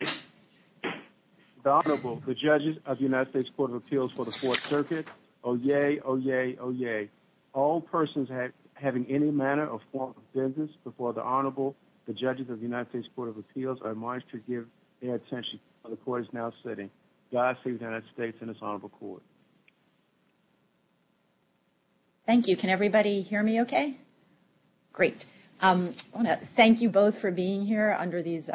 The Honorable, the Judges of the United States Court of Appeals for the Fourth Circuit. Oh, yay, oh, yay, oh, yay. All persons having any manner or form of business before the Honorable, the Judges of the United States Court of Appeals are admonished to give their attention while the Court is now sitting. God save the United States and this Honorable Court. Thank you. Can everybody hear me okay? Great. I want to thank you both for being here under these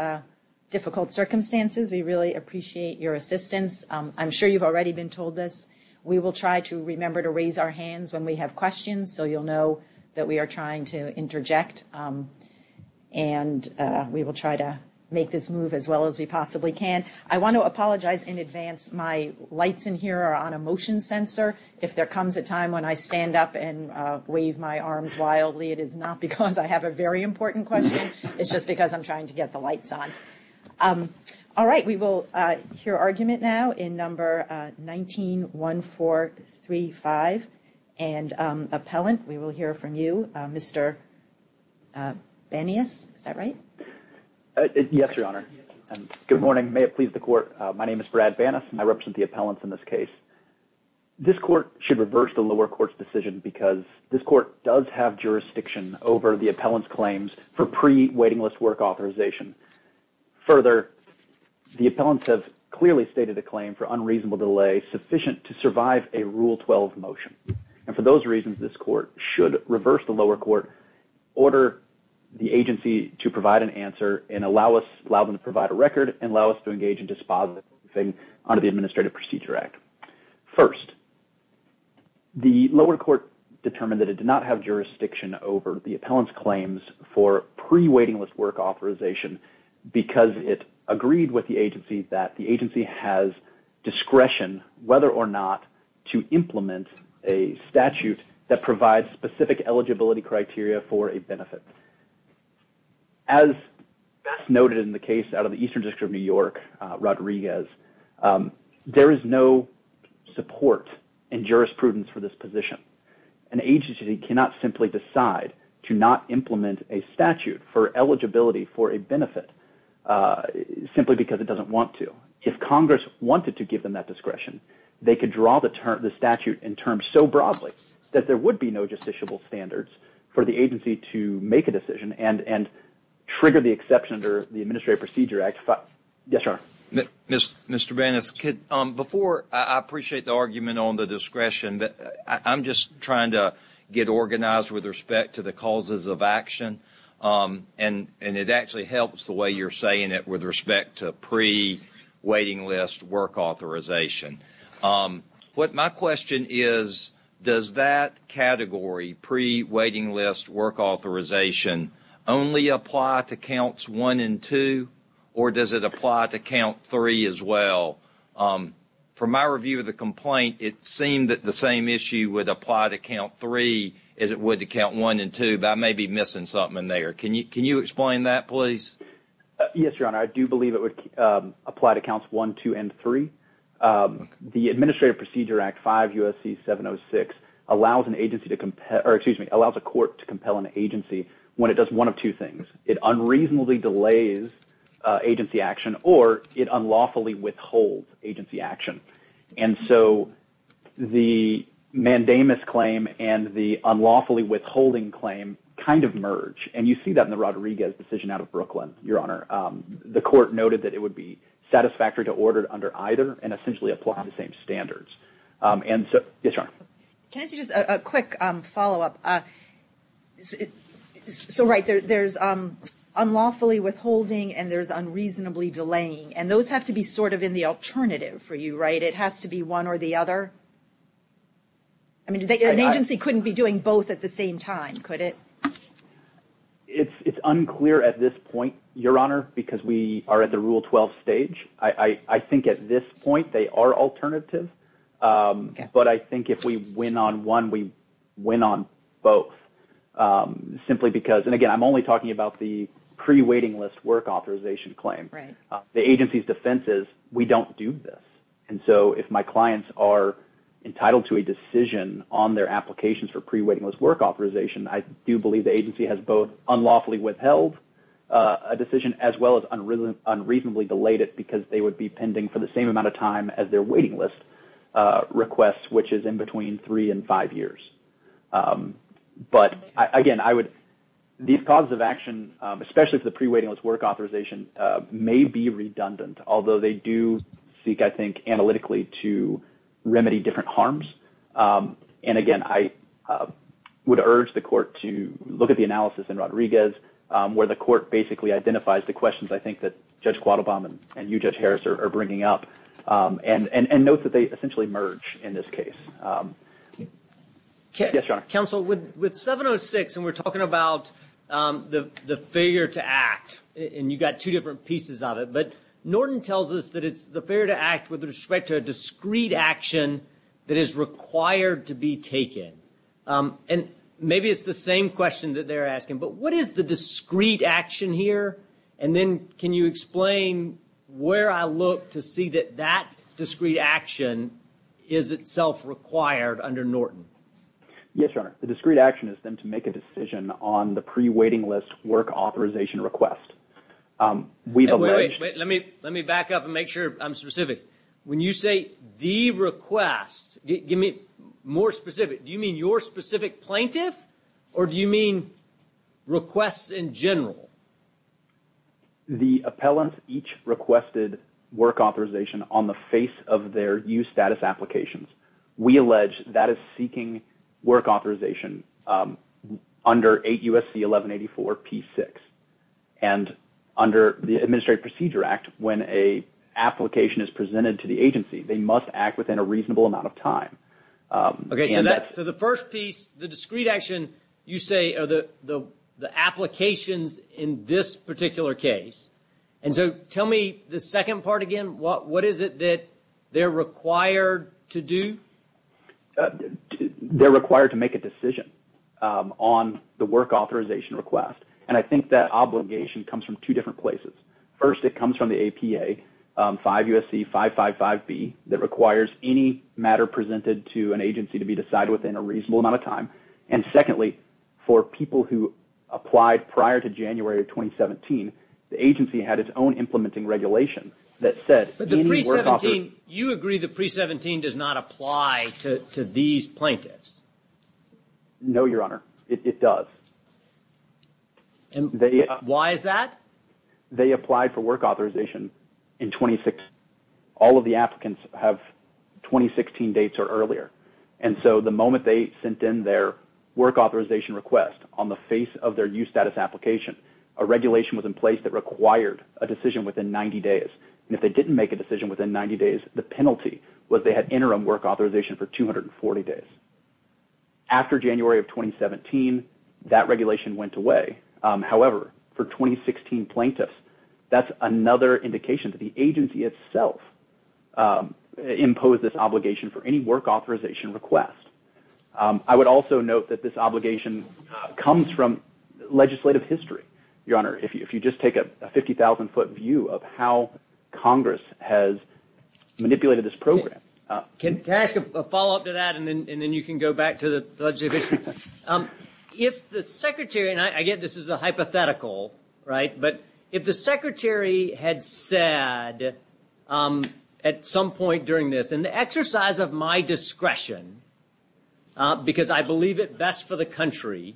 difficult circumstances. We really appreciate your assistance. I'm sure you've already been told this. We will try to remember to raise our hands when we have questions so you'll know that we are trying to interject. And we will try to make this move as well as we possibly can. And I want to apologize in advance. My lights in here are on a motion sensor. If there comes a time when I stand up and wave my arms wildly, it is not because I have a very important question. It's just because I'm trying to get the lights on. All right, we will hear argument now in number 19-1435. And Appellant, we will hear from you. Mr. Banas, is that right? Yes, Your Honor. Good morning. May it please the Court. My name is Brad Banas and I represent the Appellants in this case. This Court should reverse the lower court's decision because this Court does have jurisdiction over the Appellant's claims for pre-waiting list work authorization. Further, the Appellants have clearly stated a claim for unreasonable delay sufficient to survive a Rule 12 motion. And for those reasons, this Court should reverse the lower court, order the agency to provide an answer and allow them to provide a record and allow us to engage in dispositing under the Administrative Procedure Act. First, the lower court determined that it did not have jurisdiction over the Appellant's claims for pre-waiting list work authorization because it agreed with the agency that the agency has discretion whether or not to implement a statute that provides specific eligibility criteria for a benefit. As noted in the case out of the Eastern District of New York, Rodriguez, there is no support and jurisprudence for this position. An agency cannot simply decide to not implement a statute for eligibility for a benefit simply because it doesn't want to. If Congress wanted to give them that discretion, they could draw the statute in terms so broadly that there would be no justiciable standards for the agency to make a decision and trigger the exception under the Administrative Procedure Act. Mr. Bennis, I appreciate the argument on the discretion, but I'm just trying to get organized with respect to the causes of action. And it actually helps the way you're saying it with respect to pre-waiting list work authorization. My question is, does that category, pre-waiting list work authorization, only apply to Counts 1 and 2, or does it apply to Count 3 as well? From my review of the complaint, it seemed that the same issue would apply to Count 3 as it would to Count 1 and 2, but I may be missing something there. Can you explain that, please? Yes, Your Honor. I do believe it would apply to Counts 1, 2, and 3. The Administrative Procedure Act 5 U.S.C. 706 allows a court to compel an agency when it does one of two things. It unreasonably delays agency action or it unlawfully withholds agency action. And so the mandamus claim and the unlawfully withholding claim kind of merge. And you see that in the Rodriguez decision out of Brooklyn, Your Honor. The court noted that it would be satisfactory to order under either and essentially apply the same standards. Can I ask you just a quick follow-up? So, right, there's unlawfully withholding and there's unreasonably delaying, and those have to be sort of in the alternative for you, right? It has to be one or the other? I mean, an agency couldn't be doing both at the same time, could it? It's unclear at this point, Your Honor, because we are at the Rule 12 stage. I think at this point they are alternative. But I think if we win on one, we win on both. Simply because, and again, I'm only talking about the pre-waiting list work authorization claim. The agency's defense is we don't do this. And so if my clients are entitled to a decision on their applications for pre-waiting list work authorization, I do believe the agency has both unlawfully withheld a decision as well as unreasonably delayed it because they would be pending for the same amount of time as their waiting list request, which is in between three and five years. But, again, I would – these causes of action, especially for the pre-waiting list work authorization, may be redundant, although they do seek, I think, analytically to remedy different harms. And, again, I would urge the court to look at the analysis in Rodriguez, where the court basically identifies the questions I think that Judge Quattlebaum and you, Judge Harris, are bringing up and notes that they essentially merge in this case. Yes, Your Honor. Counsel, with 706, and we're talking about the failure to act, and you've got two different pieces of it, but Norton tells us that it's the failure to act with respect to a discrete action that is required to be taken. And maybe it's the same question that they're asking, but what is the discrete action here? And then can you explain where I look to see that that discrete action is itself required under Norton? Yes, Your Honor. The discrete action is then to make a decision on the pre-waiting list work authorization request. We've alleged – Wait, wait, wait. Let me back up and make sure I'm specific. When you say the request, give me more specific. Do you mean your specific plaintiff, or do you mean requests in general? The appellants each requested work authorization on the face of their e-status applications. We allege that is seeking work authorization under 8 U.S.C. 1184 P6. And under the Administrative Procedure Act, when an application is presented to the agency, they must act within a reasonable amount of time. Okay, so the first piece, the discrete action, you say are the applications in this particular case. And so tell me the second part again. What is it that they're required to do? They're required to make a decision on the work authorization request. And I think that obligation comes from two different places. First, it comes from the APA, 5 U.S.C. 555B, that requires any matter presented to an agency to be decided within a reasonable amount of time. And secondly, for people who applied prior to January of 2017, the agency had its own implementing regulation that said any work author... But the pre-17, you agree the pre-17 does not apply to these plaintiffs? No, Your Honor. It does. And why is that? They applied for work authorization in 2016. All of the applicants have 2016 dates or earlier. And so the moment they sent in their work authorization request on the face of their use status application, a regulation was in place that required a decision within 90 days. And if they didn't make a decision within 90 days, the penalty was they had interim work authorization for 240 days. After January of 2017, that regulation went away. However, for 2016 plaintiffs, that's another indication that the agency itself imposed this obligation for any work authorization request. I would also note that this obligation comes from legislative history, Your Honor, if you just take a 50,000 foot view of how Congress has manipulated this program. Can I ask a follow-up to that and then you can go back to the legislative history? If the Secretary, and I get this is a hypothetical, right, but if the Secretary had said at some point during this, in the exercise of my discretion, because I believe it best for the country,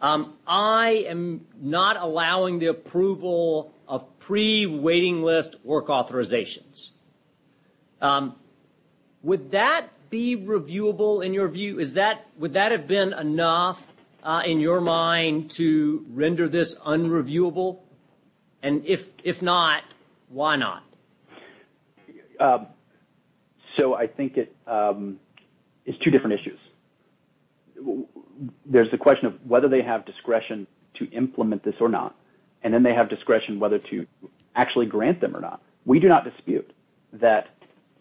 I am not allowing the approval of pre-waiting list work authorizations. Would that be reviewable in your view? Would that have been enough in your mind to render this unreviewable? And if not, why not? So I think it's two different issues. There's the question of whether they have discretion to implement this or not, and then they have discretion whether to actually grant them or not. We do not dispute that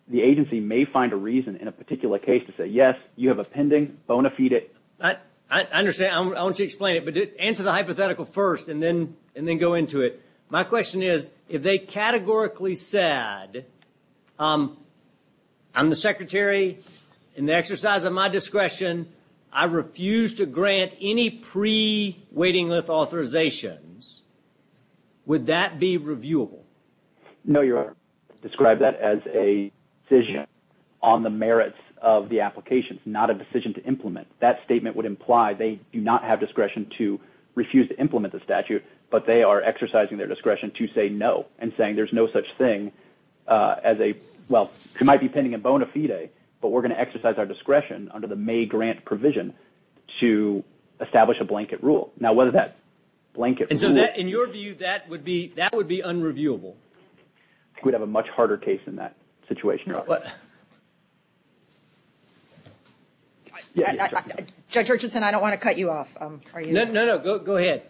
the agency may find a reason in a particular case to say, yes, you have a pending, bona fide. I understand. I want to explain it, but answer the hypothetical first and then go into it. My question is, if they categorically said, I'm the Secretary, in the exercise of my discretion, I refuse to grant any pre-waiting list authorizations, would that be reviewable? No, Your Honor. Describe that as a decision on the merits of the application, not a decision to implement. That statement would imply they do not have discretion to refuse to implement the statute, but they are exercising their discretion to say no and saying there's no such thing as a – well, it might be pending and bona fide, but we're going to exercise our discretion under the May grant provision to establish a blanket rule. And so in your view, that would be unreviewable? I think we'd have a much harder case in that situation, Your Honor. Judge Urchinson, I don't want to cut you off. No, no, no. Go ahead.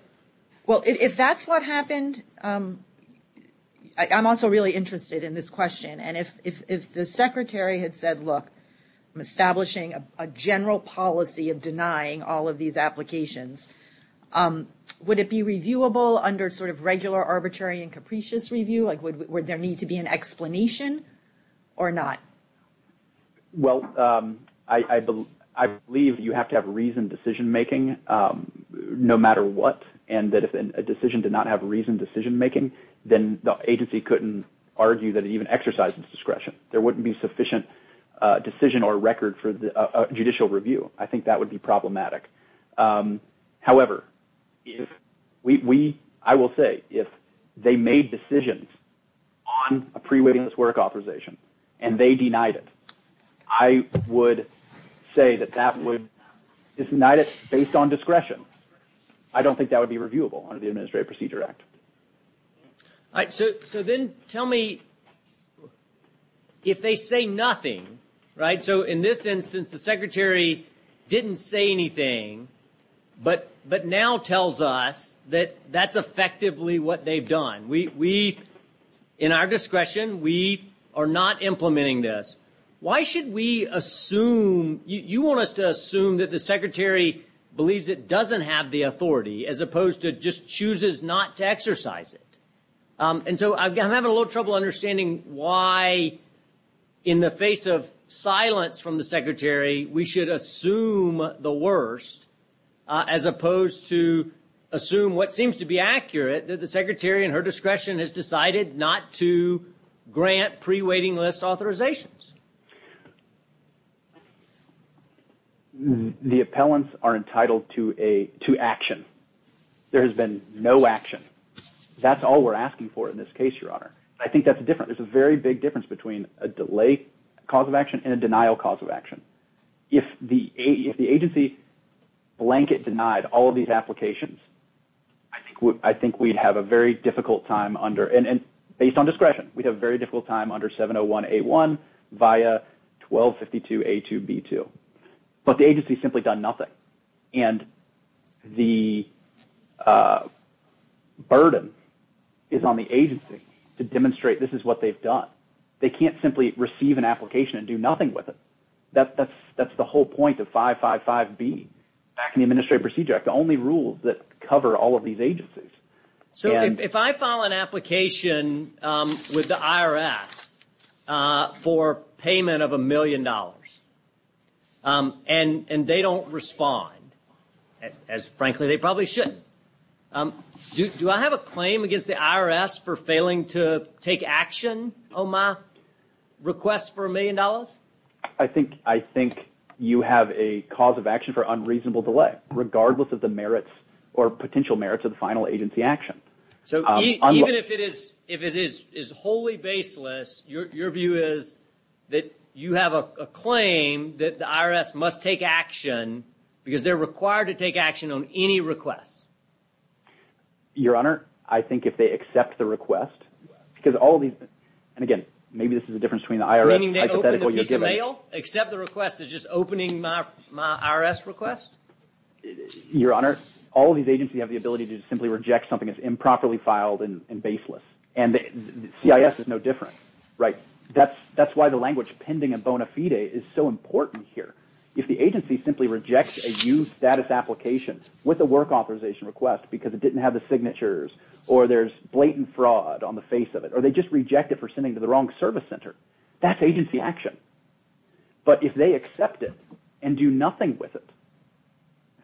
Well, if that's what happened – I'm also really interested in this question. And if the Secretary had said, look, I'm establishing a general policy of denying all of these applications, would it be reviewable under sort of regular arbitrary and capricious review? Like, would there need to be an explanation or not? Well, I believe you have to have reasoned decision making no matter what, and that if a decision did not have reasoned decision making, then the agency couldn't argue that it even exercised its discretion. There wouldn't be sufficient decision or record for judicial review. I think that would be problematic. However, if we – I will say, if they made decisions on a pre-waiting this work authorization and they denied it, I would say that that would – if denied it based on discretion, I don't think that would be reviewable under the Administrative Procedure Act. All right. So then tell me, if they say nothing – right? So in this instance, the Secretary didn't say anything, but now tells us that that's effectively what they've done. We – in our discretion, we are not implementing this. Why should we assume – you want us to assume that the Secretary believes it doesn't have the authority as opposed to just chooses not to exercise it. And so I'm having a little trouble understanding why, in the face of silence from the Secretary, we should assume the worst as opposed to assume what seems to be accurate, that the Secretary in her discretion has decided not to grant pre-waiting list authorizations. The appellants are entitled to a – to action. There has been no action. That's all we're asking for in this case, Your Honor. I think that's different. There's a very big difference between a delay cause of action and a denial cause of action. If the agency blanket denied all of these applications, I think we'd have a very difficult time under – and based on discretion, we'd have a very difficult time under 701A1 via 1252A2B2. But the agency's simply done nothing, and the burden is on the agency to demonstrate this is what they've done. They can't simply receive an application and do nothing with it. That's the whole point of 555B, back in the Administrative Procedure Act, the only rules that cover all of these agencies. So if I file an application with the IRS for payment of $1 million and they don't respond, as frankly they probably shouldn't, do I have a claim against the IRS for failing to take action on my request for $1 million? I think you have a cause of action for unreasonable delay, regardless of the merits or potential merits of the final agency action. So even if it is wholly baseless, your view is that you have a claim that the IRS must take action because they're required to take action on any request? Your Honor, I think if they accept the request, because all of these – and again, maybe this is the difference between the IRS – Meaning they open the piece of mail, accept the request as just opening my IRS request? Your Honor, all of these agencies have the ability to simply reject something that's improperly filed and baseless. And CIS is no different. Right. That's why the language pending in bona fide is so important here. If the agency simply rejects a used status application with a work authorization request because it didn't have the signatures, or there's blatant fraud on the face of it, or they just reject it for sending to the wrong service center, that's agency action. But if they accept it and do nothing with it,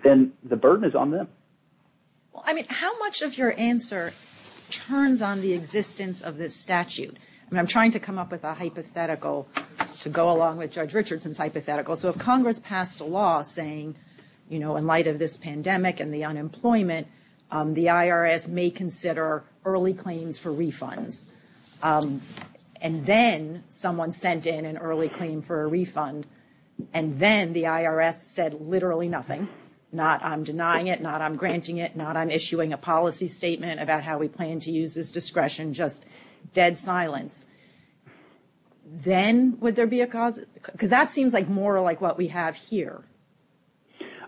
then the burden is on them. Well, I mean, how much of your answer turns on the existence of this statute? I mean, I'm trying to come up with a hypothetical to go along with Judge Richardson's hypothetical. So if Congress passed a law saying, you know, in light of this pandemic and the unemployment, the IRS may consider early claims for refunds, and then someone sent in an early claim for a refund, and then the IRS said literally nothing, not I'm denying it, not I'm granting it, not I'm issuing a policy statement about how we plan to use this discretion, just dead silence. Then would there be a cause? Because that seems like more like what we have here.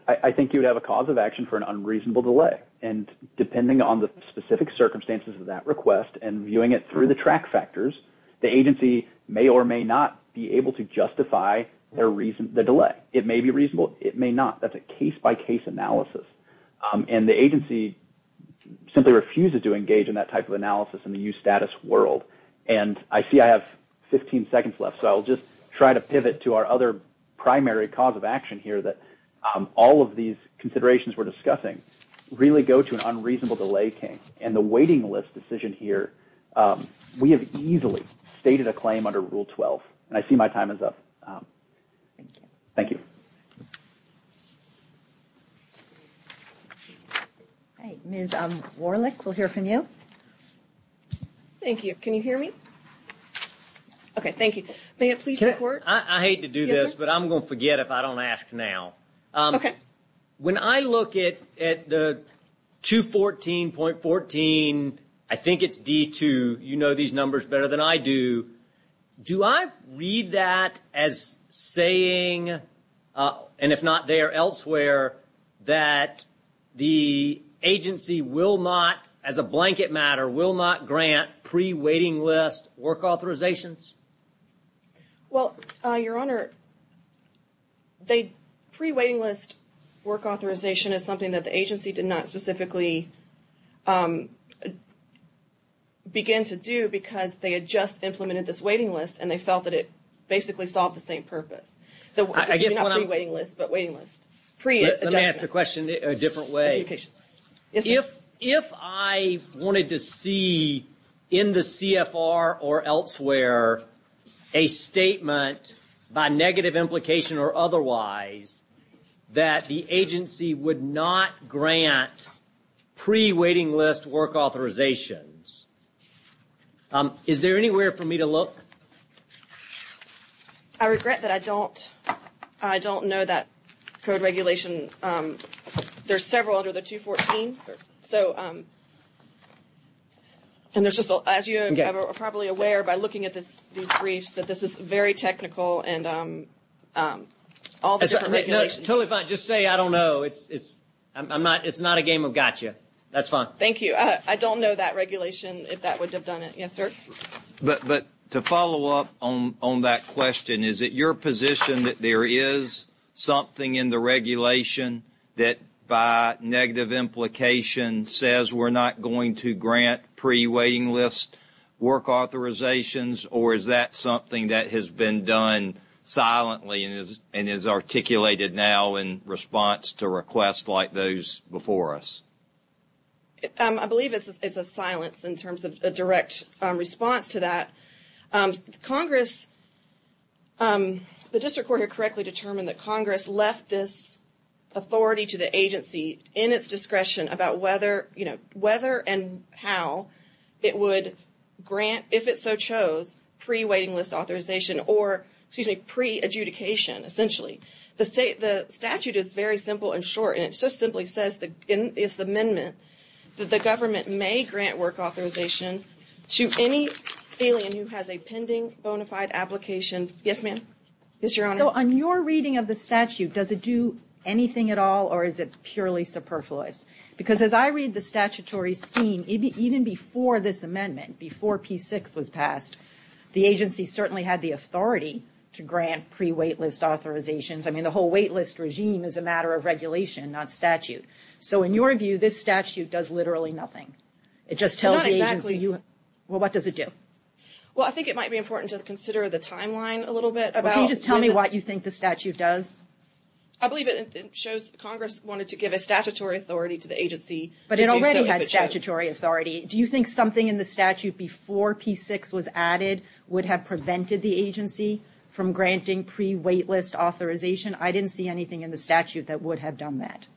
I think you'd have a cause of action for an unreasonable delay. And depending on the specific circumstances of that request and viewing it through the track factors, the agency may or may not be able to justify the delay. It may be reasonable, it may not. That's a case-by-case analysis. And the agency simply refuses to engage in that type of analysis in the used status world. And I see I have 15 seconds left, so I'll just try to pivot to our other primary cause of action here that all of these considerations we're discussing really go to an unreasonable delay case. And the waiting list decision here, we have easily stated a claim under Rule 12. And I see my time is up. Thank you. Ms. Warlick, we'll hear from you. Thank you. Can you hear me? Okay, thank you. May I please report? I hate to do this, but I'm going to forget if I don't ask now. Okay. When I look at the 214.14, I think it's D2, you know these numbers better than I do. Do I read that as saying, and if not there, elsewhere, that the agency will not, as a blanket matter, will not grant pre-waiting list work authorizations? Well, Your Honor, pre-waiting list work authorization is something that the agency did not specifically begin to do because they had just implemented this waiting list and they felt that it basically solved the same purpose. Not pre-waiting list, but waiting list. Let me ask the question a different way. Yes, sir. If I wanted to see in the CFR or elsewhere a statement by negative implication or otherwise that the agency would not grant pre-waiting list work authorizations, is there anywhere for me to look? I regret that I don't know that code regulation. There's several under the 214. So, and there's just, as you are probably aware by looking at these briefs, that this is very technical and all the different regulations. It's totally fine. Just say I don't know. It's not a game of gotcha. That's fine. Thank you. I don't know that regulation, if that would have done it. Yes, sir. But to follow up on that question, is it your position that there is something in the regulation that by negative implication says we're not going to grant pre-waiting list work authorizations, or is that something that has been done silently and is articulated now in response to requests like those before us? I believe it's a silence in terms of a direct response to that. Congress, the district court here correctly determined that Congress left this authority to the agency in its discretion about whether, you know, whether and how it would grant, if it so chose, pre-waiting list authorization or, excuse me, pre-adjudication essentially. The statute is very simple and short, and it just simply says in this amendment that the government may grant work authorization to any salient who has a pending bona fide application. Yes, ma'am? Yes, Your Honor. So on your reading of the statute, does it do anything at all, or is it purely superfluous? Because as I read the statutory scheme, even before this amendment, before P6 was passed, the agency certainly had the authority to grant pre-wait list authorizations. I mean, the whole wait list regime is a matter of regulation, not statute. So in your view, this statute does literally nothing. It just tells the agency. Well, not exactly. Well, what does it do? Well, I think it might be important to consider the timeline a little bit about this. Well, can you just tell me what you think the statute does? I believe it shows Congress wanted to give a statutory authority to the agency. But it already had statutory authority. Do you think something in the statute before P6 was added would have prevented the agency from granting pre-wait list authorization? I didn't see anything in the statute that would have done that.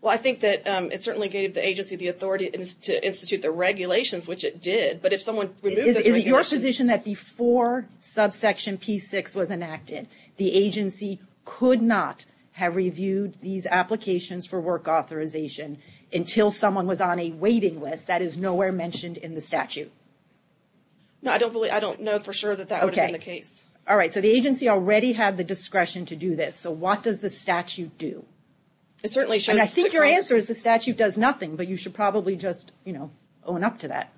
Well, I think that it certainly gave the agency the authority to institute the regulations, which it did. Is it your position that before subsection P6 was enacted, the agency could not have reviewed these applications for work authorization until someone was on a waiting list? That is nowhere mentioned in the statute. No, I don't know for sure that that would have been the case. Okay. All right. So the agency already had the discretion to do this. So what does the statute do? I think your answer is the statute does nothing, but you should probably just, you know, own up to that.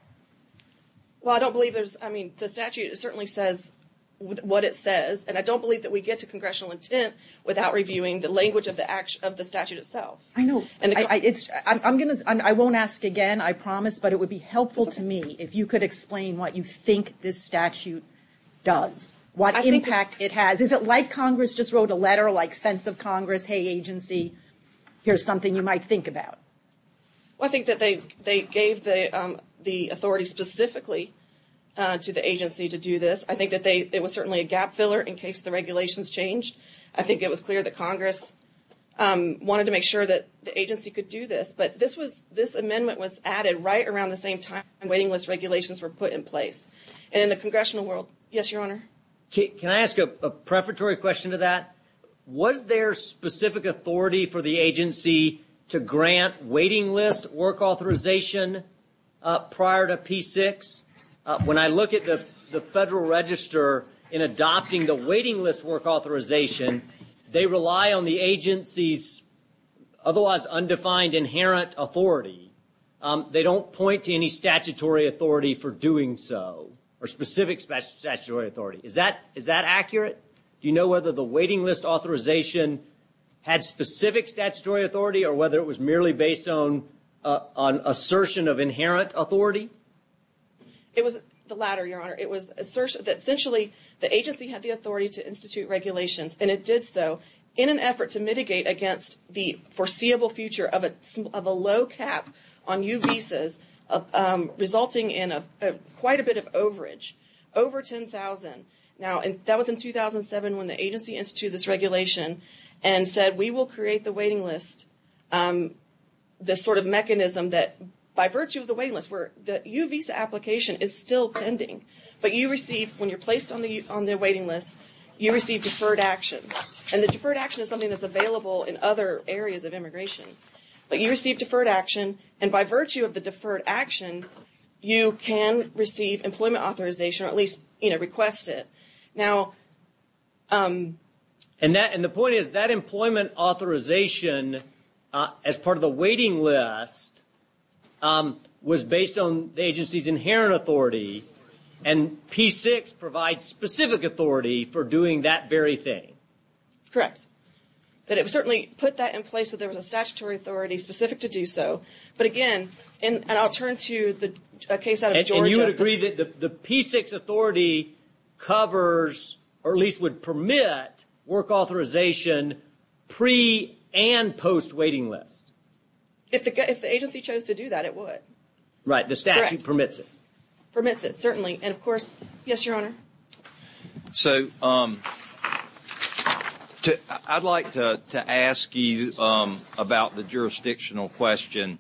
Well, I don't believe there's, I mean, the statute certainly says what it says. And I don't believe that we get to congressional intent without reviewing the language of the statute itself. I know. I won't ask again, I promise. But it would be helpful to me if you could explain what you think this statute does, what impact it has. Is it like Congress just wrote a letter, like sense of Congress, hey, agency, here's something you might think about? Well, I think that they gave the authority specifically to the agency to do this. I think that it was certainly a gap filler in case the regulations changed. I think it was clear that Congress wanted to make sure that the agency could do this. But this amendment was added right around the same time waiting list regulations were put in place. And in the congressional world, yes, Your Honor? Can I ask a preparatory question to that? Was there specific authority for the agency to grant waiting list work authorization prior to P6? When I look at the Federal Register in adopting the waiting list work authorization, they rely on the agency's otherwise undefined inherent authority. They don't point to any statutory authority for doing so, or specific statutory authority. Is that accurate? Do you know whether the waiting list authorization had specific statutory authority or whether it was merely based on assertion of inherent authority? It was the latter, Your Honor. It was assertion that essentially the agency had the authority to institute regulations, and it did so in an effort to mitigate against the foreseeable future of a low cap on U visas, resulting in quite a bit of overage, over 10,000. Now, that was in 2007 when the agency instituted this regulation and said we will create the waiting list, this sort of mechanism that, by virtue of the waiting list work, the U visa application is still pending. But you receive, when you're placed on the waiting list, you receive deferred action. And the deferred action is something that's available in other areas of immigration. But you receive deferred action, and by virtue of the deferred action, you can receive employment authorization, or at least request it. And the point is that employment authorization as part of the waiting list was based on the agency's inherent authority, and P-6 provides specific authority for doing that very thing. Correct. But it certainly put that in place that there was a statutory authority specific to do so. But again, and I'll turn to the case out of Georgia. And you would agree that the P-6 authority covers, or at least would permit, work authorization pre- and post-waiting list? If the agency chose to do that, it would. Right, the statute permits it. Permits it, certainly. And, of course, yes, Your Honor. So I'd like to ask you about the jurisdictional question.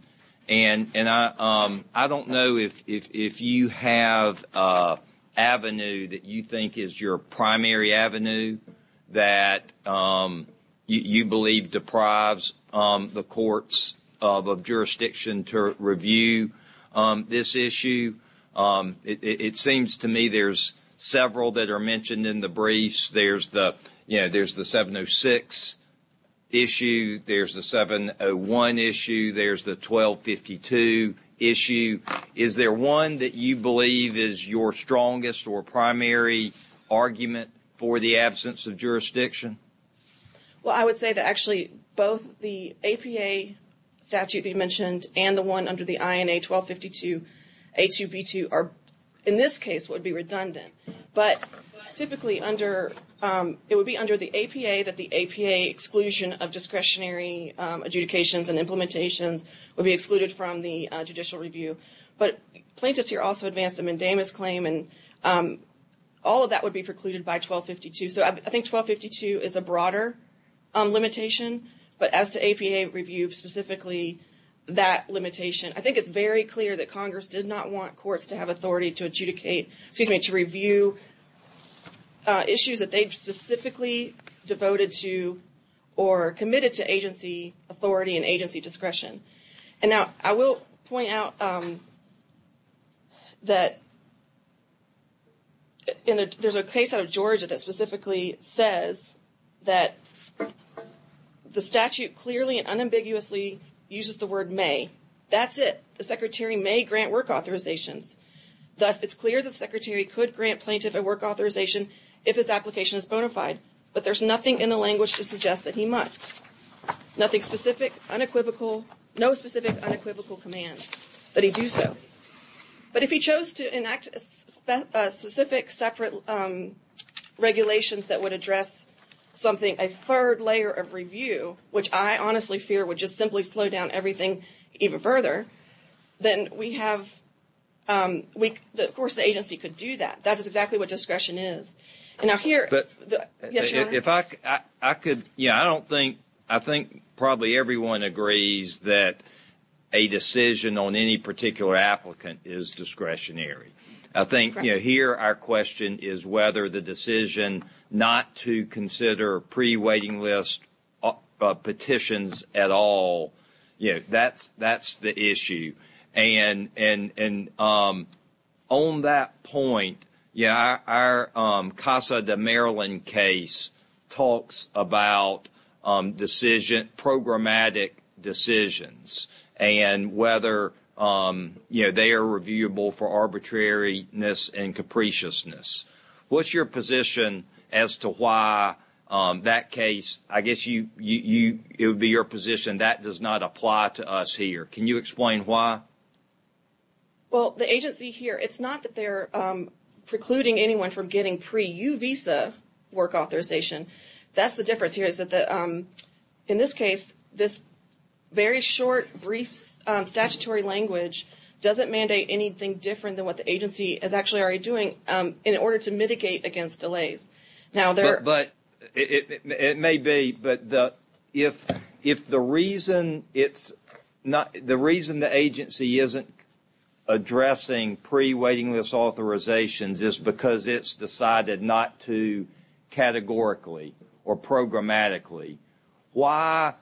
And I don't know if you have an avenue that you think is your primary avenue that you believe deprives the courts of jurisdiction to review this issue. It seems to me there's several that are mentioned in the briefs. There's the 706 issue. There's the 701 issue. There's the 1252 issue. Is there one that you believe is your strongest or primary argument for the absence of jurisdiction? Well, I would say that actually both the APA statute that you mentioned and the one under the INA 1252A2B2 are, in this case, would be redundant. But typically it would be under the APA that the APA exclusion of discretionary adjudications and implementations would be excluded from the judicial review. But plaintiffs here also advanced a mandamus claim, and all of that would be precluded by 1252. So I think 1252 is a broader limitation. But as to APA review specifically, that limitation, I think it's very clear that Congress did not want courts to have authority to adjudicate, excuse me, to review issues that they specifically devoted to or committed to agency authority and agency discretion. And now I will point out that there's a case out of Georgia that specifically says that the statute clearly and unambiguously uses the word may. That's it. The secretary may grant work authorizations. Thus, it's clear the secretary could grant plaintiff a work authorization if his application is bona fide. But there's nothing in the language to suggest that he must. Nothing specific, unequivocal, no specific unequivocal command that he do so. But if he chose to enact specific separate regulations that would address something, a third layer of review, which I honestly fear would just simply slow down everything even further, then we have, of course the agency could do that. That is exactly what discretion is. Yes, Your Honor? I think probably everyone agrees that a decision on any particular applicant is discretionary. I think here our question is whether the decision not to consider pre-waiting list petitions at all. That's the issue. On that point, our Casa de Maryland case talks about programmatic decisions and whether they are reviewable for arbitrariness and capriciousness. What's your position as to why that case, I guess it would be your position, that does not apply to us here? Can you explain why? Well, the agency here, it's not that they're precluding anyone from getting pre-U visa work authorization. That's the difference here. In this case, this very short, brief statutory language doesn't mandate anything different than what the agency is actually already doing in order to mitigate against delays. It may be, but if the reason the agency isn't addressing pre-waiting list authorizations is because it's decided not to categorically or programmatically, why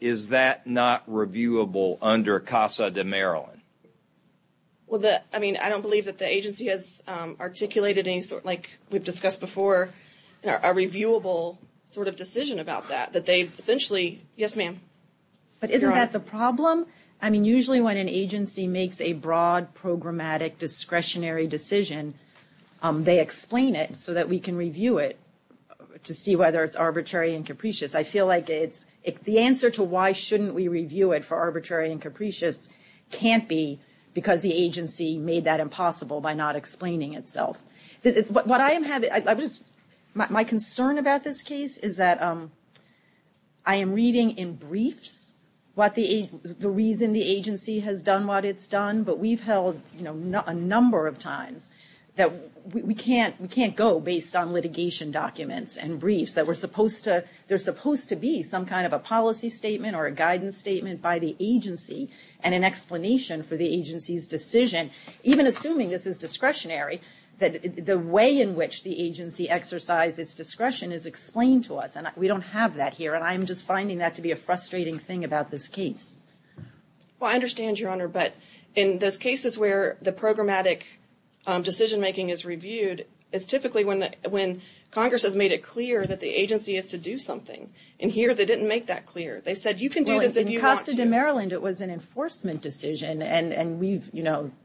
is that not reviewable under Casa de Maryland? Well, I mean, I don't believe that the agency has articulated any sort, like we've discussed before, a reviewable sort of decision about that. That they've essentially, yes, ma'am. But isn't that the problem? I mean, usually when an agency makes a broad, programmatic, discretionary decision, they explain it so that we can review it to see whether it's arbitrary and capricious. I feel like the answer to why shouldn't we review it for arbitrary and capricious can't be because the agency made that impossible by not explaining itself. My concern about this case is that I am reading in briefs the reason the agency has done what it's done, but we've held a number of times that we can't go based on litigation documents and briefs. There's supposed to be some kind of a policy statement or a guidance statement by the agency, and an explanation for the agency's decision. Even assuming this is discretionary, the way in which the agency exercised its discretion is explained to us, and we don't have that here, and I'm just finding that to be a frustrating thing about this case. Well, I understand, Your Honor, but in those cases where the programmatic decision-making is reviewed, it's typically when Congress has made it clear that the agency has to do something. And here, they didn't make that clear. They said you can do this if you want to. In Maryland, it was an enforcement decision, and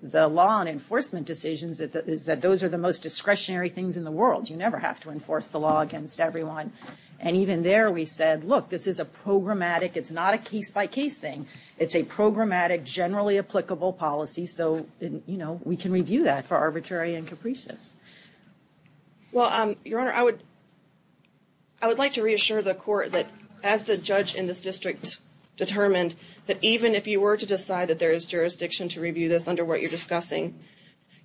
the law on enforcement decisions is that those are the most discretionary things in the world. You never have to enforce the law against everyone. And even there, we said, look, this is a programmatic, it's not a case-by-case thing. It's a programmatic, generally applicable policy, so we can review that for arbitrary and capricious. Well, Your Honor, I would like to reassure the Court that, as the judge in this district determined, that even if you were to decide that there is jurisdiction to review this under what you're discussing,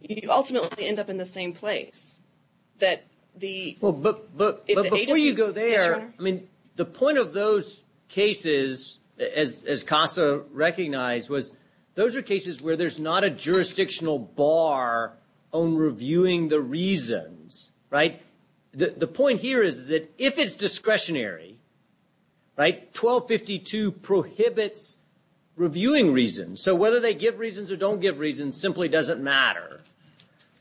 you ultimately end up in the same place. But before you go there, I mean, the point of those cases, as CASA recognized, was those are cases where there's not a jurisdictional bar on reviewing the reasons, right? The point here is that if it's discretionary, right, 1252 prohibits reviewing reasons. So whether they give reasons or don't give reasons simply doesn't matter,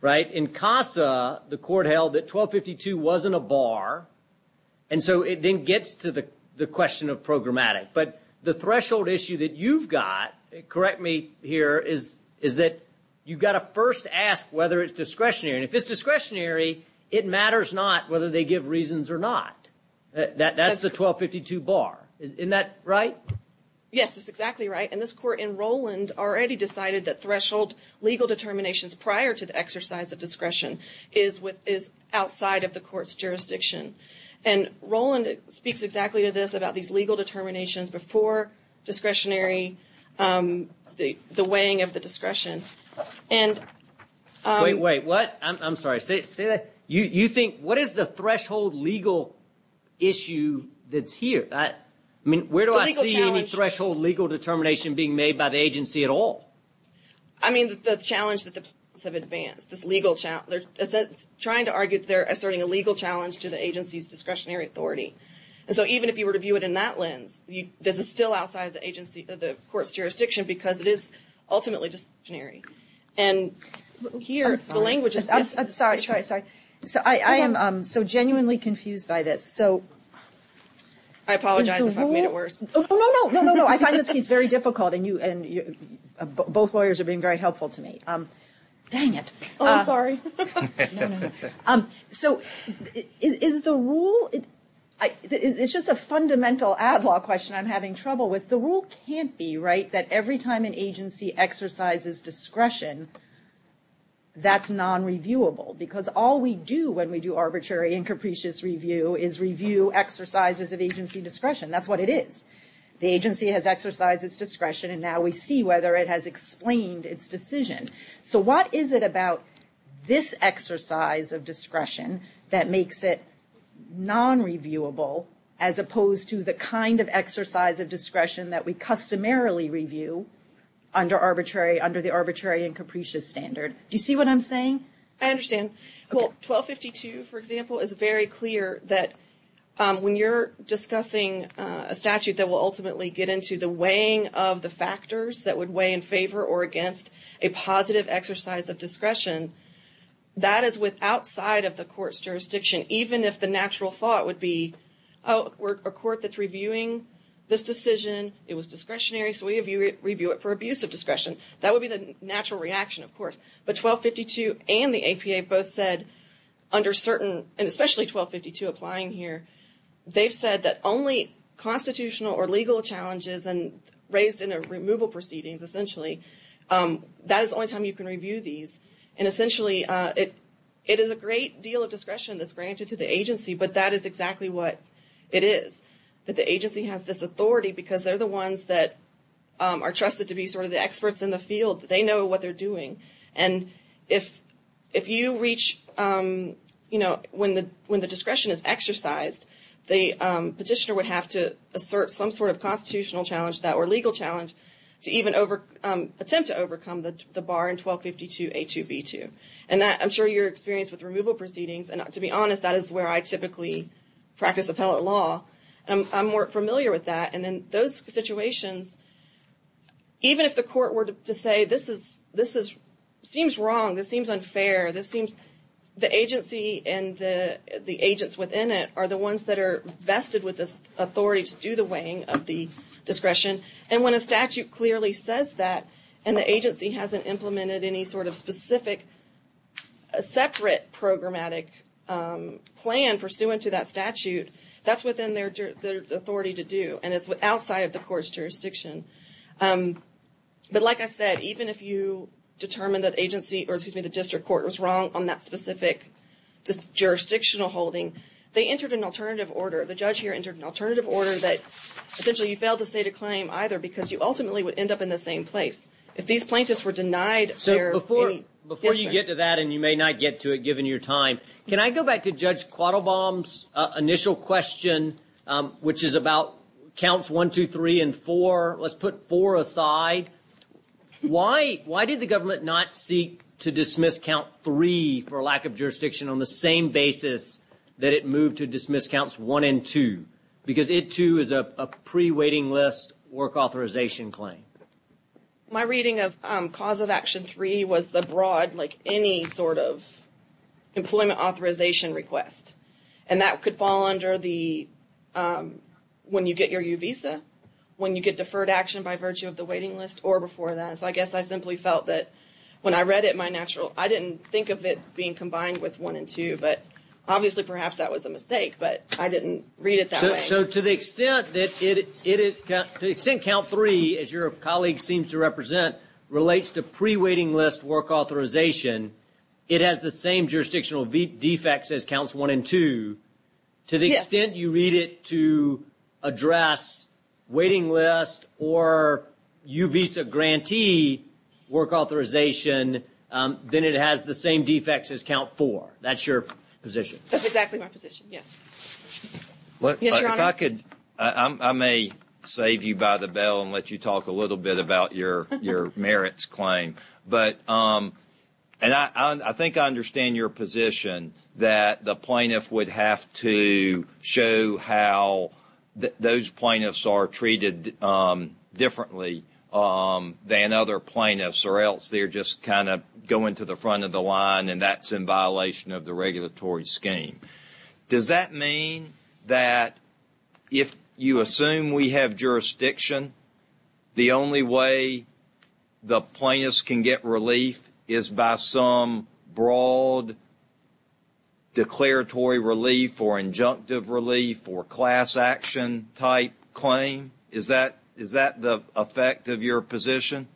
right? In CASA, the Court held that 1252 wasn't a bar, and so it then gets to the question of programmatic. But the threshold issue that you've got, correct me here, is that you've got to first ask whether it's discretionary. And if it's discretionary, it matters not whether they give reasons or not. That's the 1252 bar. Isn't that right? Yes, that's exactly right. And this Court in Roland already decided that threshold legal determinations prior to the exercise of discretion is outside of the Court's jurisdiction. And Roland speaks exactly to this about these legal determinations before discretionary, the weighing of the discretion. Wait, wait, what? I'm sorry. Say that. You think, what is the threshold legal issue that's here? I mean, where do I see any threshold legal determination being made by the agency at all? I mean, the challenge that the plaintiffs have advanced, this legal challenge. They're trying to argue that they're asserting a legal challenge to the agency's discretionary authority. And so even if you were to view it in that lens, this is still outside the agency, the Court's jurisdiction, because it is ultimately discretionary. And here, the language is... I'm sorry, sorry, sorry. I am so genuinely confused by this. I apologize if I've made it worse. No, no, no, no, no. I find this piece very difficult, and both lawyers are being very helpful to me. Dang it. Oh, I'm sorry. No, no, no. So is the rule... It's just a fundamental ad law question I'm having trouble with. The rule can't be, right, that every time an agency exercises discretion, that's non-reviewable. Because all we do when we do arbitrary and capricious review is review exercises of agency discretion. That's what it is. The agency has exercised its discretion, and now we see whether it has explained its decision. So what is it about this exercise of discretion that makes it non-reviewable, as opposed to the kind of exercise of discretion that we customarily review under the arbitrary and capricious standard? Do you see what I'm saying? I understand. Well, 1252, for example, is very clear that when you're discussing a statute that will ultimately get into the weighing of the factors that would weigh in favor or against a positive exercise of discretion, that is with outside of the court's jurisdiction, even if the natural thought would be, oh, we're a court that's reviewing this decision. It was discretionary, so we review it for abuse of discretion. That would be the natural reaction, of course. But 1252 and the APA both said under certain, and especially 1252 applying here, they've said that only constitutional or legal challenges and raised in a removal proceedings, essentially, that is the only time you can review these. And essentially, it is a great deal of discretion that's granted to the agency, but that is exactly what it is, that the agency has this authority because they're the ones that are trusted to be sort of the experts in the field. They know what they're doing. And if you reach, you know, when the discretion is exercised, the petitioner would have to assert some sort of constitutional challenge to that or legal challenge to even attempt to overcome the bar in 1252A2B2. And I'm sure you're experienced with removal proceedings. And to be honest, that is where I typically practice appellate law. I'm more familiar with that. And in those situations, even if the court were to say this is, this is, seems wrong, this seems unfair, this seems the agency and the agents within it are the ones that are vested with this authority to do the weighing of the discretion. And when a statute clearly says that, and the agency hasn't implemented any sort of specific, separate programmatic plan pursuant to that statute, that's within their authority to do. And it's outside of the court's jurisdiction. But like I said, even if you determine that agency, or excuse me, the district court was wrong on that specific jurisdictional holding, they entered an alternative order. The judge here entered an alternative order that essentially you failed to state a claim either because you ultimately would end up in the same place. If these plaintiffs were denied their petition. So before you get to that, and you may not get to it given your time, can I go back to Judge Quattlebaum's initial question, which is about counts one, two, three, and four? Let's put four aside. Why did the government not seek to dismiss count three for lack of jurisdiction on the same basis that it moved to dismiss counts one and two? Because it too is a pre-weighting list work authorization claim. My reading of cause of action three was the broad, like any sort of employment authorization request. And that could fall under the when you get your U visa, when you get deferred action by virtue of the weighting list, or before that. So I guess I simply felt that when I read it, my natural, I didn't think of it being combined with one and two. But obviously perhaps that was a mistake, but I didn't read it that way. So to the extent that count three, as your colleague seems to represent, relates to pre-weighting list work authorization, it has the same jurisdictional defects as counts one and two. To the extent you read it to address weighting list or U visa grantee work authorization, then it has the same defects as count four. That's your position. That's exactly my position, yes. Yes, Your Honor. If I could, I may save you by the bell and let you talk a little bit about your merits claim. But I think I understand your position that the plaintiff would have to show how those plaintiffs are treated differently than other plaintiffs or else they're just kind of going to the front of the line and that's in violation of the regulatory scheme. Does that mean that if you assume we have jurisdiction, the only way the plaintiffs can get relief is by some broad declaratory relief or injunctive relief or class action type claim? Is that the effect of your position?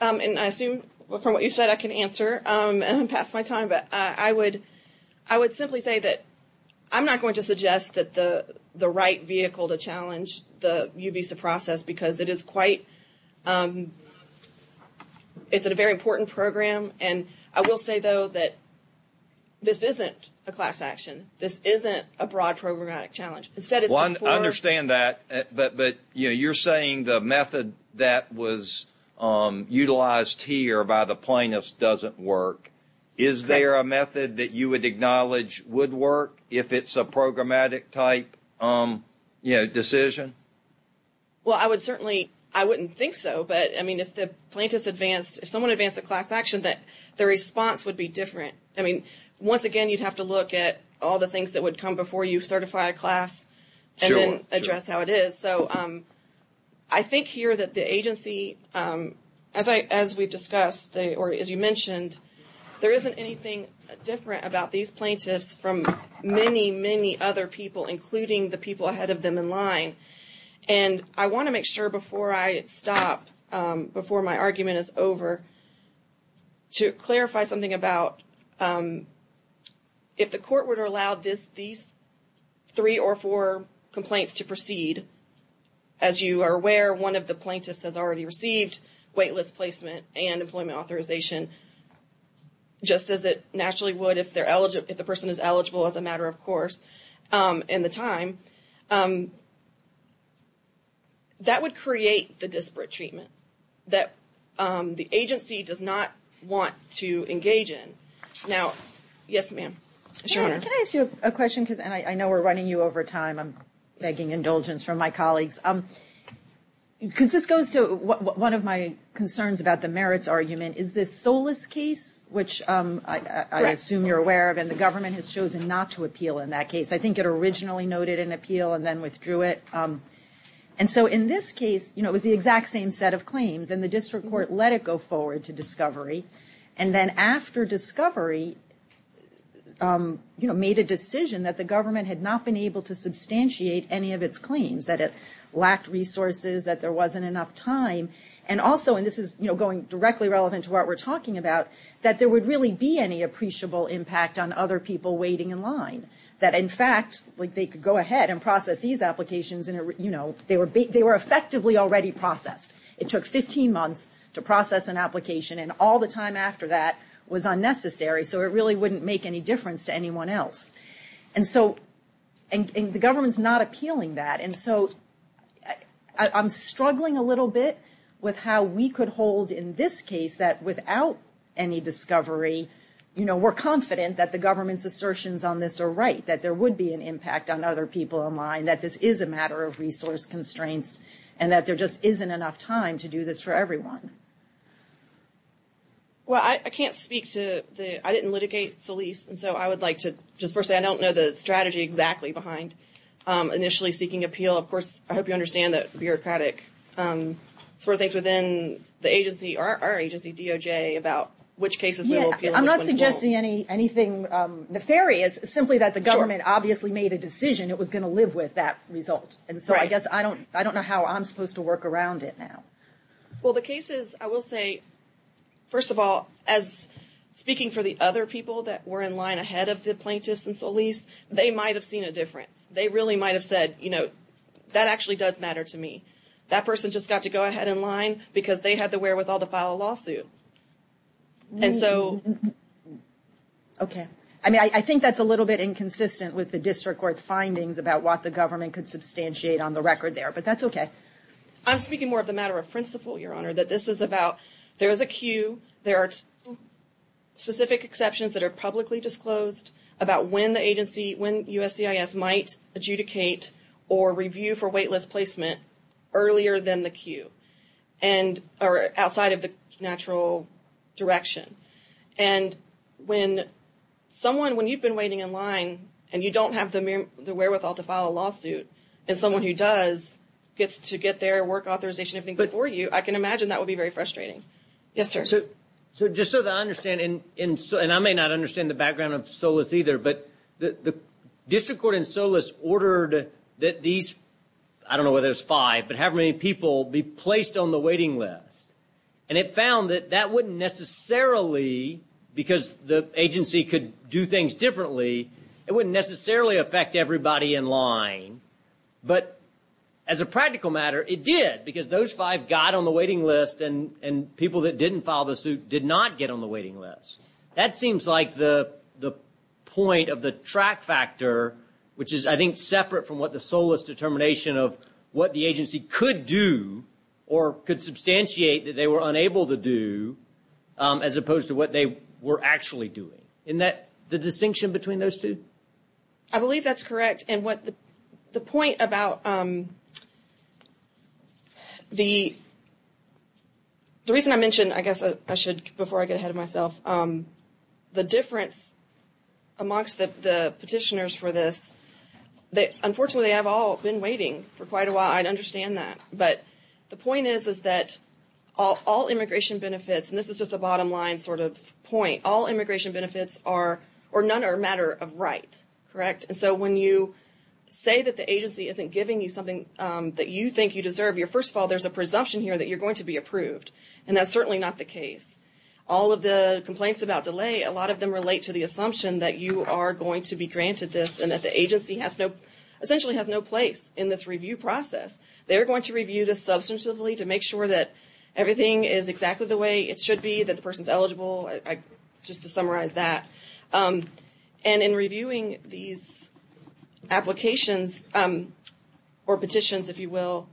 And I assume from what you said, I can answer and pass my time. But I would simply say that I'm not going to suggest that the right vehicle to challenge the U visa process because it is quite, it's a very important program. And I will say, though, that this isn't a class action. This isn't a broad programmatic challenge. I understand that, but you're saying the method that was utilized here by the plaintiffs doesn't work. Is there a method that you would acknowledge would work if it's a programmatic type decision? Well, I would certainly, I wouldn't think so. But, I mean, if the plaintiffs advanced, if someone advanced a class action, the response would be different. I mean, once again, you'd have to look at all the things that would come before you certify a class and then address how it is. So I think here that the agency, as we've discussed or as you mentioned, there isn't anything different about these plaintiffs from many, many other people, including the people ahead of them in line. And I want to make sure before I stop, before my argument is over, to clarify something about if the court would allow these three or four complaints to proceed. As you are aware, one of the plaintiffs has already received waitlist placement and employment authorization, just as it naturally would if they're eligible, if the person is eligible as a matter of course, in the time. That would create the disparate treatment that the agency does not want to engage in. Now, yes, ma'am. Can I ask you a question? Because I know we're running you over time. I'm begging indulgence from my colleagues. Because this goes to one of my concerns about the merits argument. Is this Solis case, which I assume you're aware of and the government has chosen not to appeal in that case? I think it originally noted an appeal and then withdrew it. And so in this case, you know, it was the exact same set of claims and the district court let it go forward to discovery. And then after discovery, you know, made a decision that the government had not been able to substantiate any of its claims, that it lacked resources, that there wasn't enough time. And also, and this is, you know, going directly relevant to what we're talking about, that there would really be any appreciable impact on other people waiting in line. That in fact, like they could go ahead and process these applications and, you know, they were effectively already processed. It took 15 months to process an application and all the time after that was unnecessary. So it really wouldn't make any difference to anyone else. And so, and the government's not appealing that. And so I'm struggling a little bit with how we could hold in this case that without any discovery, you know, we're confident that the government's assertions on this are right, that there would be an impact on other people in line, that this is a matter of resource constraints and that there just isn't enough time to do this for everyone. Well, I can't speak to the, I didn't litigate Solis. And so I would like to just first say I don't know the strategy exactly behind initially seeking appeal. Of course, I hope you understand that bureaucratic sort of things within the agency, our agency, DOJ, about which cases. I'm not suggesting anything nefarious, simply that the government obviously made a decision. It was going to live with that result. And so I guess I don't, I don't know how I'm supposed to work around it now. Well, the cases, I will say, first of all, as speaking for the other people that were in line ahead of the plaintiffs in Solis, they might have seen a difference. They really might have said, you know, that actually does matter to me. That person just got to go ahead in line because they had the wherewithal to file a lawsuit. And so. Okay. I mean, I think that's a little bit inconsistent with the district court's findings about what the government could substantiate on the record there. But that's okay. I'm speaking more of the matter of principle, Your Honor, that this is about, there is a queue. There are specific exceptions that are publicly disclosed about when the agency, when USCIS might adjudicate or review for waitlist placement earlier than the queue. And, or outside of the natural direction. And when someone, when you've been waiting in line and you don't have the wherewithal to file a lawsuit, and someone who does gets to get their work authorization before you, I can imagine that would be very frustrating. Yes, sir. So just so that I understand, and I may not understand the background of Solis either, but the district court in Solis ordered that these, I don't know whether it was five, but however many people be placed on the waiting list. And it found that that wouldn't necessarily, because the agency could do things differently, it wouldn't necessarily affect everybody in line. But as a practical matter, it did, because those five got on the waiting list and people that didn't file the suit did not get on the waiting list. That seems like the point of the track factor, which is, I think, separate from what the Solis determination of what the agency could do, or could substantiate that they were unable to do, as opposed to what they were actually doing. Isn't that the distinction between those two? I believe that's correct. And the point about the reason I mentioned, I guess I should, before I get ahead of myself, the difference amongst the petitioners for this, unfortunately they have all been waiting for quite a while. I understand that. But the point is that all immigration benefits, and this is just a bottom line sort of point, all immigration benefits are, or none are a matter of right, correct? And so when you say that the agency isn't giving you something that you think you deserve, first of all, there's a presumption here that you're going to be approved. And that's certainly not the case. All of the complaints about delay, a lot of them relate to the assumption that you are going to be granted this and that the agency essentially has no place in this review process. They're going to review this substantively to make sure that everything is exactly the way it should be, that the person is eligible, just to summarize that. And in reviewing these applications, or petitions, if you will,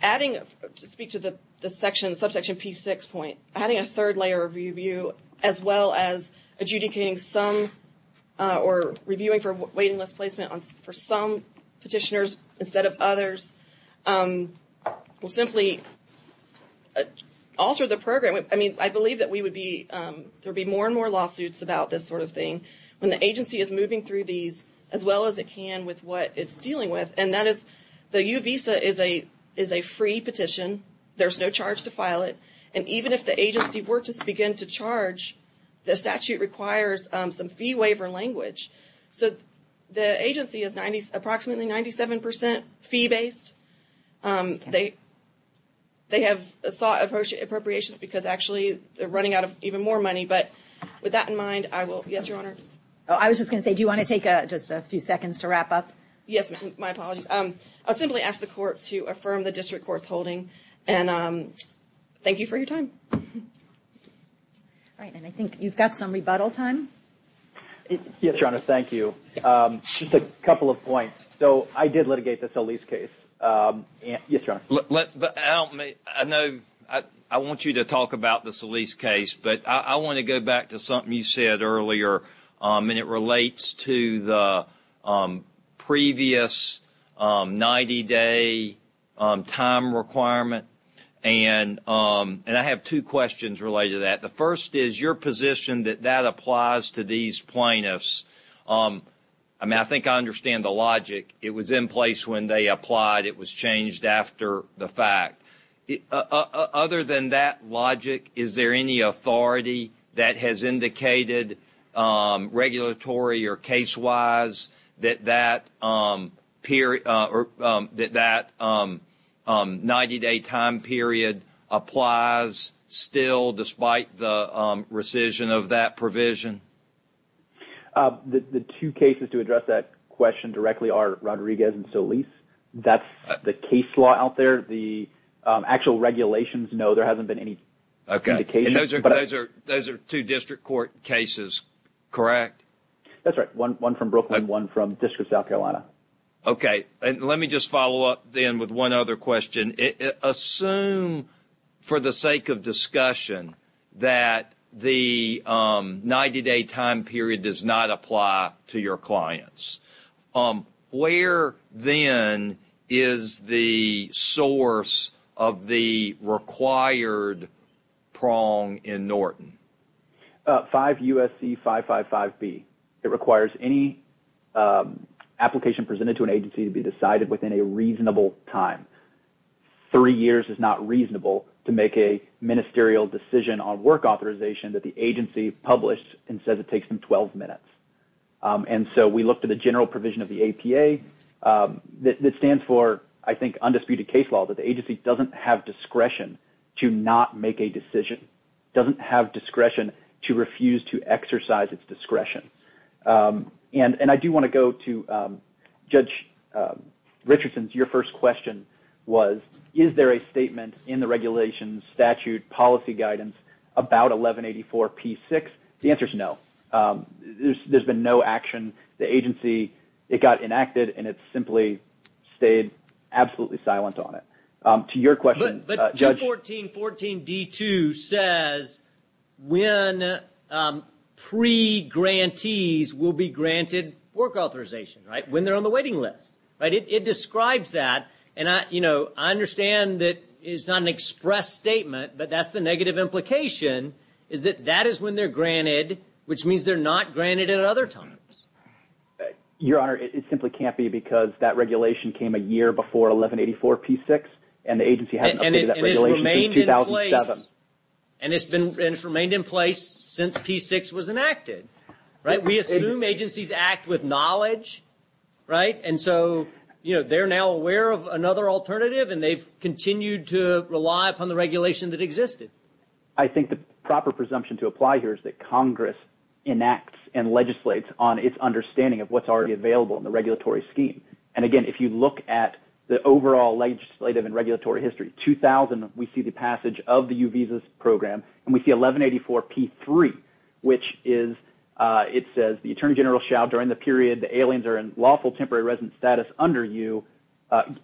adding, to speak to the subsection P6 point, adding a third layer of review, as well as adjudicating some, or reviewing for waiting list placement for some petitioners instead of others, will simply alter the program. I mean, I believe that we would be, there would be more and more lawsuits about this sort of thing when the agency is moving through these as well as it can with what it's dealing with. And that is, the U visa is a free petition. There's no charge to file it. And even if the agency were to begin to charge, the statute requires some fee waiver language. So the agency is approximately 97% fee-based. They have sought appropriations because actually they're running out of even more money. But with that in mind, I will, yes, Your Honor? I was just going to say, do you want to take just a few seconds to wrap up? Yes, my apologies. I'll simply ask the court to affirm the district court's holding. And thank you for your time. All right. And I think you've got some rebuttal time. Yes, Your Honor, thank you. Just a couple of points. So I did litigate the Solis case. Yes, Your Honor? I want you to talk about the Solis case. But I want to go back to something you said earlier, and it relates to the previous 90-day time requirement. And I have two questions related to that. The first is your position that that applies to these plaintiffs. I mean, I think I understand the logic. It was in place when they applied. It was changed after the fact. Other than that logic, is there any authority that has indicated regulatory or case-wise that that 90-day time period applies still, despite the rescission of that provision? The two cases to address that question directly are Rodriguez and Solis. That's the case law out there. The actual regulations, no, there hasn't been any indication. Okay. And those are two district court cases, correct? That's right. One from Brooklyn, one from District of South Carolina. Okay. And let me just follow up then with one other question. Assume, for the sake of discussion, that the 90-day time period does not apply to your clients. Where, then, is the source of the required prong in Norton? 5 U.S.C. 555B. It requires any application presented to an agency to be decided within a reasonable time. Three years is not reasonable to make a ministerial decision on work authorization that the agency published and says it takes them 12 minutes. And so we looked at the general provision of the APA that stands for, I think, undisputed case law, that the agency doesn't have discretion to not make a decision, doesn't have discretion to refuse to exercise its discretion. And I do want to go to Judge Richardson's. Your first question was, is there a statement in the regulations statute policy guidance about 1184P6? The answer is no. There's been no action. The agency, it got enacted, and it simply stayed absolutely silent on it. To your question, Judge. But 214.14.D2 says when pre-grantees will be granted work authorization, right? When they're on the waiting list, right? It describes that. And I understand that it's not an express statement, but that's the negative implication, is that that is when they're granted, which means they're not granted at other times. Your Honor, it simply can't be because that regulation came a year before 1184P6, and the agency hasn't updated that regulation since 2007. And it's remained in place since P6 was enacted, right? We assume agencies act with knowledge, right? And so, you know, they're now aware of another alternative, and they've continued to rely upon the regulation that existed. I think the proper presumption to apply here is that Congress enacts and legislates on its understanding of what's already available in the regulatory scheme. And again, if you look at the overall legislative and regulatory history, 2000, we see the passage of the U visas program, and we see 1184P3, which is – it says the attorney general shall, during the period the aliens are in lawful temporary resident status under you,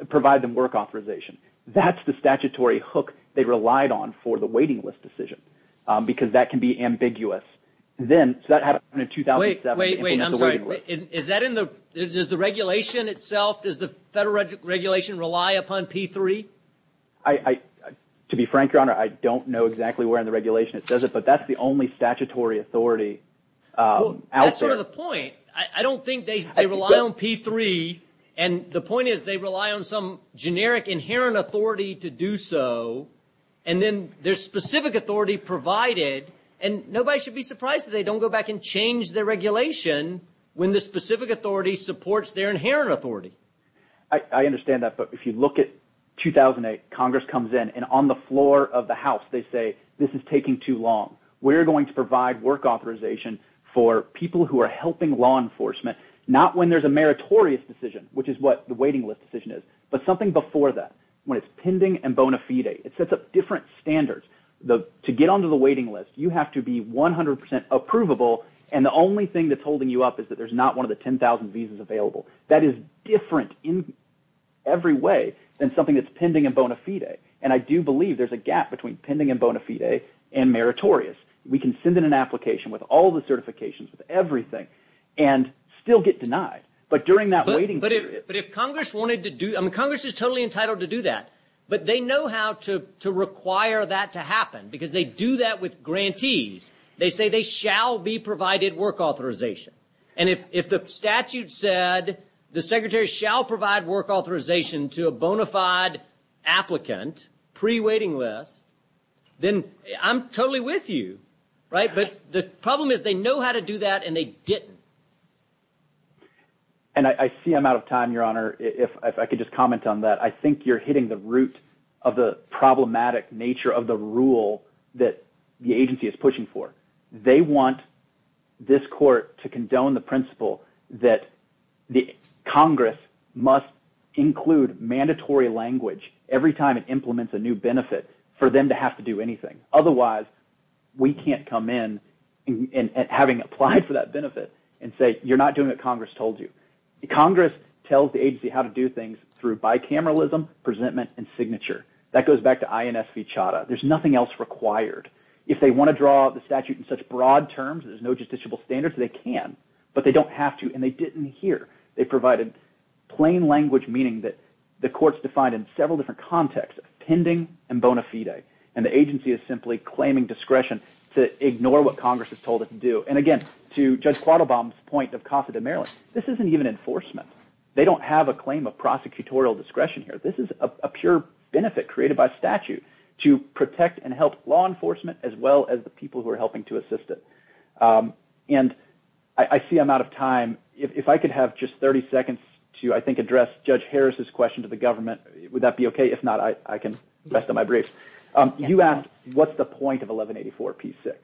provide them work authorization. That's the statutory hook they relied on for the waiting list decision because that can be ambiguous. Then, so that happened in 2007. Wait, wait, I'm sorry. Is that in the – does the regulation itself, does the federal regulation rely upon P3? To be frank, Your Honor, I don't know exactly where in the regulation it says it, but that's the only statutory authority out there. Well, that's sort of the point. I don't think they rely on P3, and the point is they rely on some generic inherent authority to do so, and then there's specific authority provided. And nobody should be surprised that they don't go back and change their regulation when the specific authority supports their inherent authority. I understand that, but if you look at 2008, Congress comes in, and on the floor of the House, they say this is taking too long. We're going to provide work authorization for people who are helping law enforcement, not when there's a meritorious decision, which is what the waiting list decision is, but something before that, when it's pending and bona fide. It sets up different standards. To get onto the waiting list, you have to be 100% approvable, and the only thing that's holding you up is that there's not one of the 10,000 visas available. That is different in every way than something that's pending and bona fide, and I do believe there's a gap between pending and bona fide and meritorious. We can send in an application with all the certifications, with everything, and still get denied, but during that waiting period. But if Congress wanted to do it, I mean Congress is totally entitled to do that, but they know how to require that to happen because they do that with grantees. They say they shall be provided work authorization, and if the statute said the secretary shall provide work authorization to a bona fide applicant pre-waiting list, then I'm totally with you, right? But the problem is they know how to do that, and they didn't. And I see I'm out of time, Your Honor, if I could just comment on that. I think you're hitting the root of the problematic nature of the rule that the agency is pushing for. They want this court to condone the principle that Congress must include mandatory language every time it implements a new benefit for them to have to do anything. Otherwise, we can't come in, having applied for that benefit, and say you're not doing what Congress told you. Congress tells the agency how to do things through bicameralism, presentment, and signature. That goes back to INS v. Chadha. There's nothing else required. If they want to draw the statute in such broad terms that there's no justiciable standards, they can, but they don't have to, and they didn't here. They provided plain language, meaning that the court is defined in several different contexts, pending and bona fide. And the agency is simply claiming discretion to ignore what Congress has told it to do. And again, to Judge Quattlebaum's point of Casa de Maryland, this isn't even enforcement. They don't have a claim of prosecutorial discretion here. This is a pure benefit created by statute to protect and help law enforcement as well as the people who are helping to assist it. And I see I'm out of time. If I could have just 30 seconds to, I think, address Judge Harris's question to the government, would that be okay? If not, I can rest on my briefs. You asked, what's the point of 1184 P6?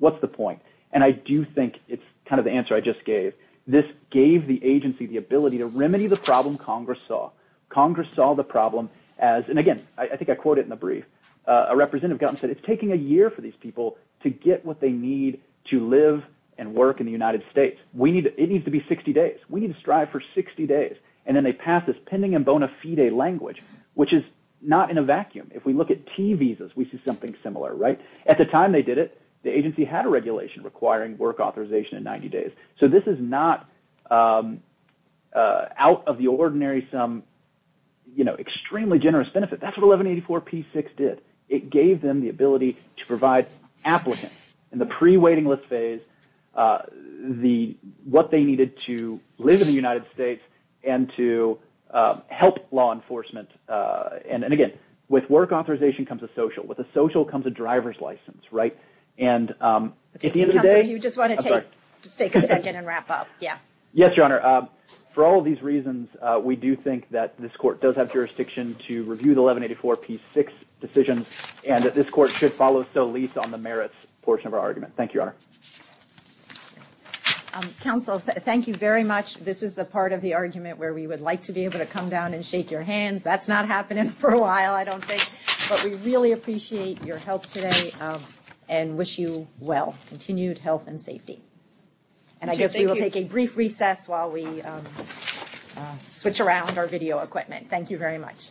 What's the point? And I do think it's kind of the answer I just gave. This gave the agency the ability to remedy the problem Congress saw. Congress saw the problem as – and again, I think I quote it in the brief. A representative got in and said it's taking a year for these people to get what they need to live and work in the United States. It needs to be 60 days. We need to strive for 60 days. And then they pass this pending and bona fide language, which is not in a vacuum. If we look at T visas, we see something similar, right? At the time they did it, the agency had a regulation requiring work authorization in 90 days. So this is not out of the ordinary some extremely generous benefit. That's what 1184 P6 did. It gave them the ability to provide applicants in the pre-waiting list phase what they needed to live in the United States and to help law enforcement. And again, with work authorization comes a social. With a social comes a driver's license, right? Counsel, if you just want to take a second and wrap up. Yes, Your Honor. For all of these reasons, we do think that this court does have jurisdiction to review the 1184 P6 decision and that this court should follow so least on the merits portion of our argument. Thank you, Your Honor. Counsel, thank you very much. This is the part of the argument where we would like to be able to come down and shake your hands. That's not happening for a while, I don't think. But we really appreciate your help today and wish you well, continued health and safety. And I guess we will take a brief recess while we switch around our video equipment. Thank you very much.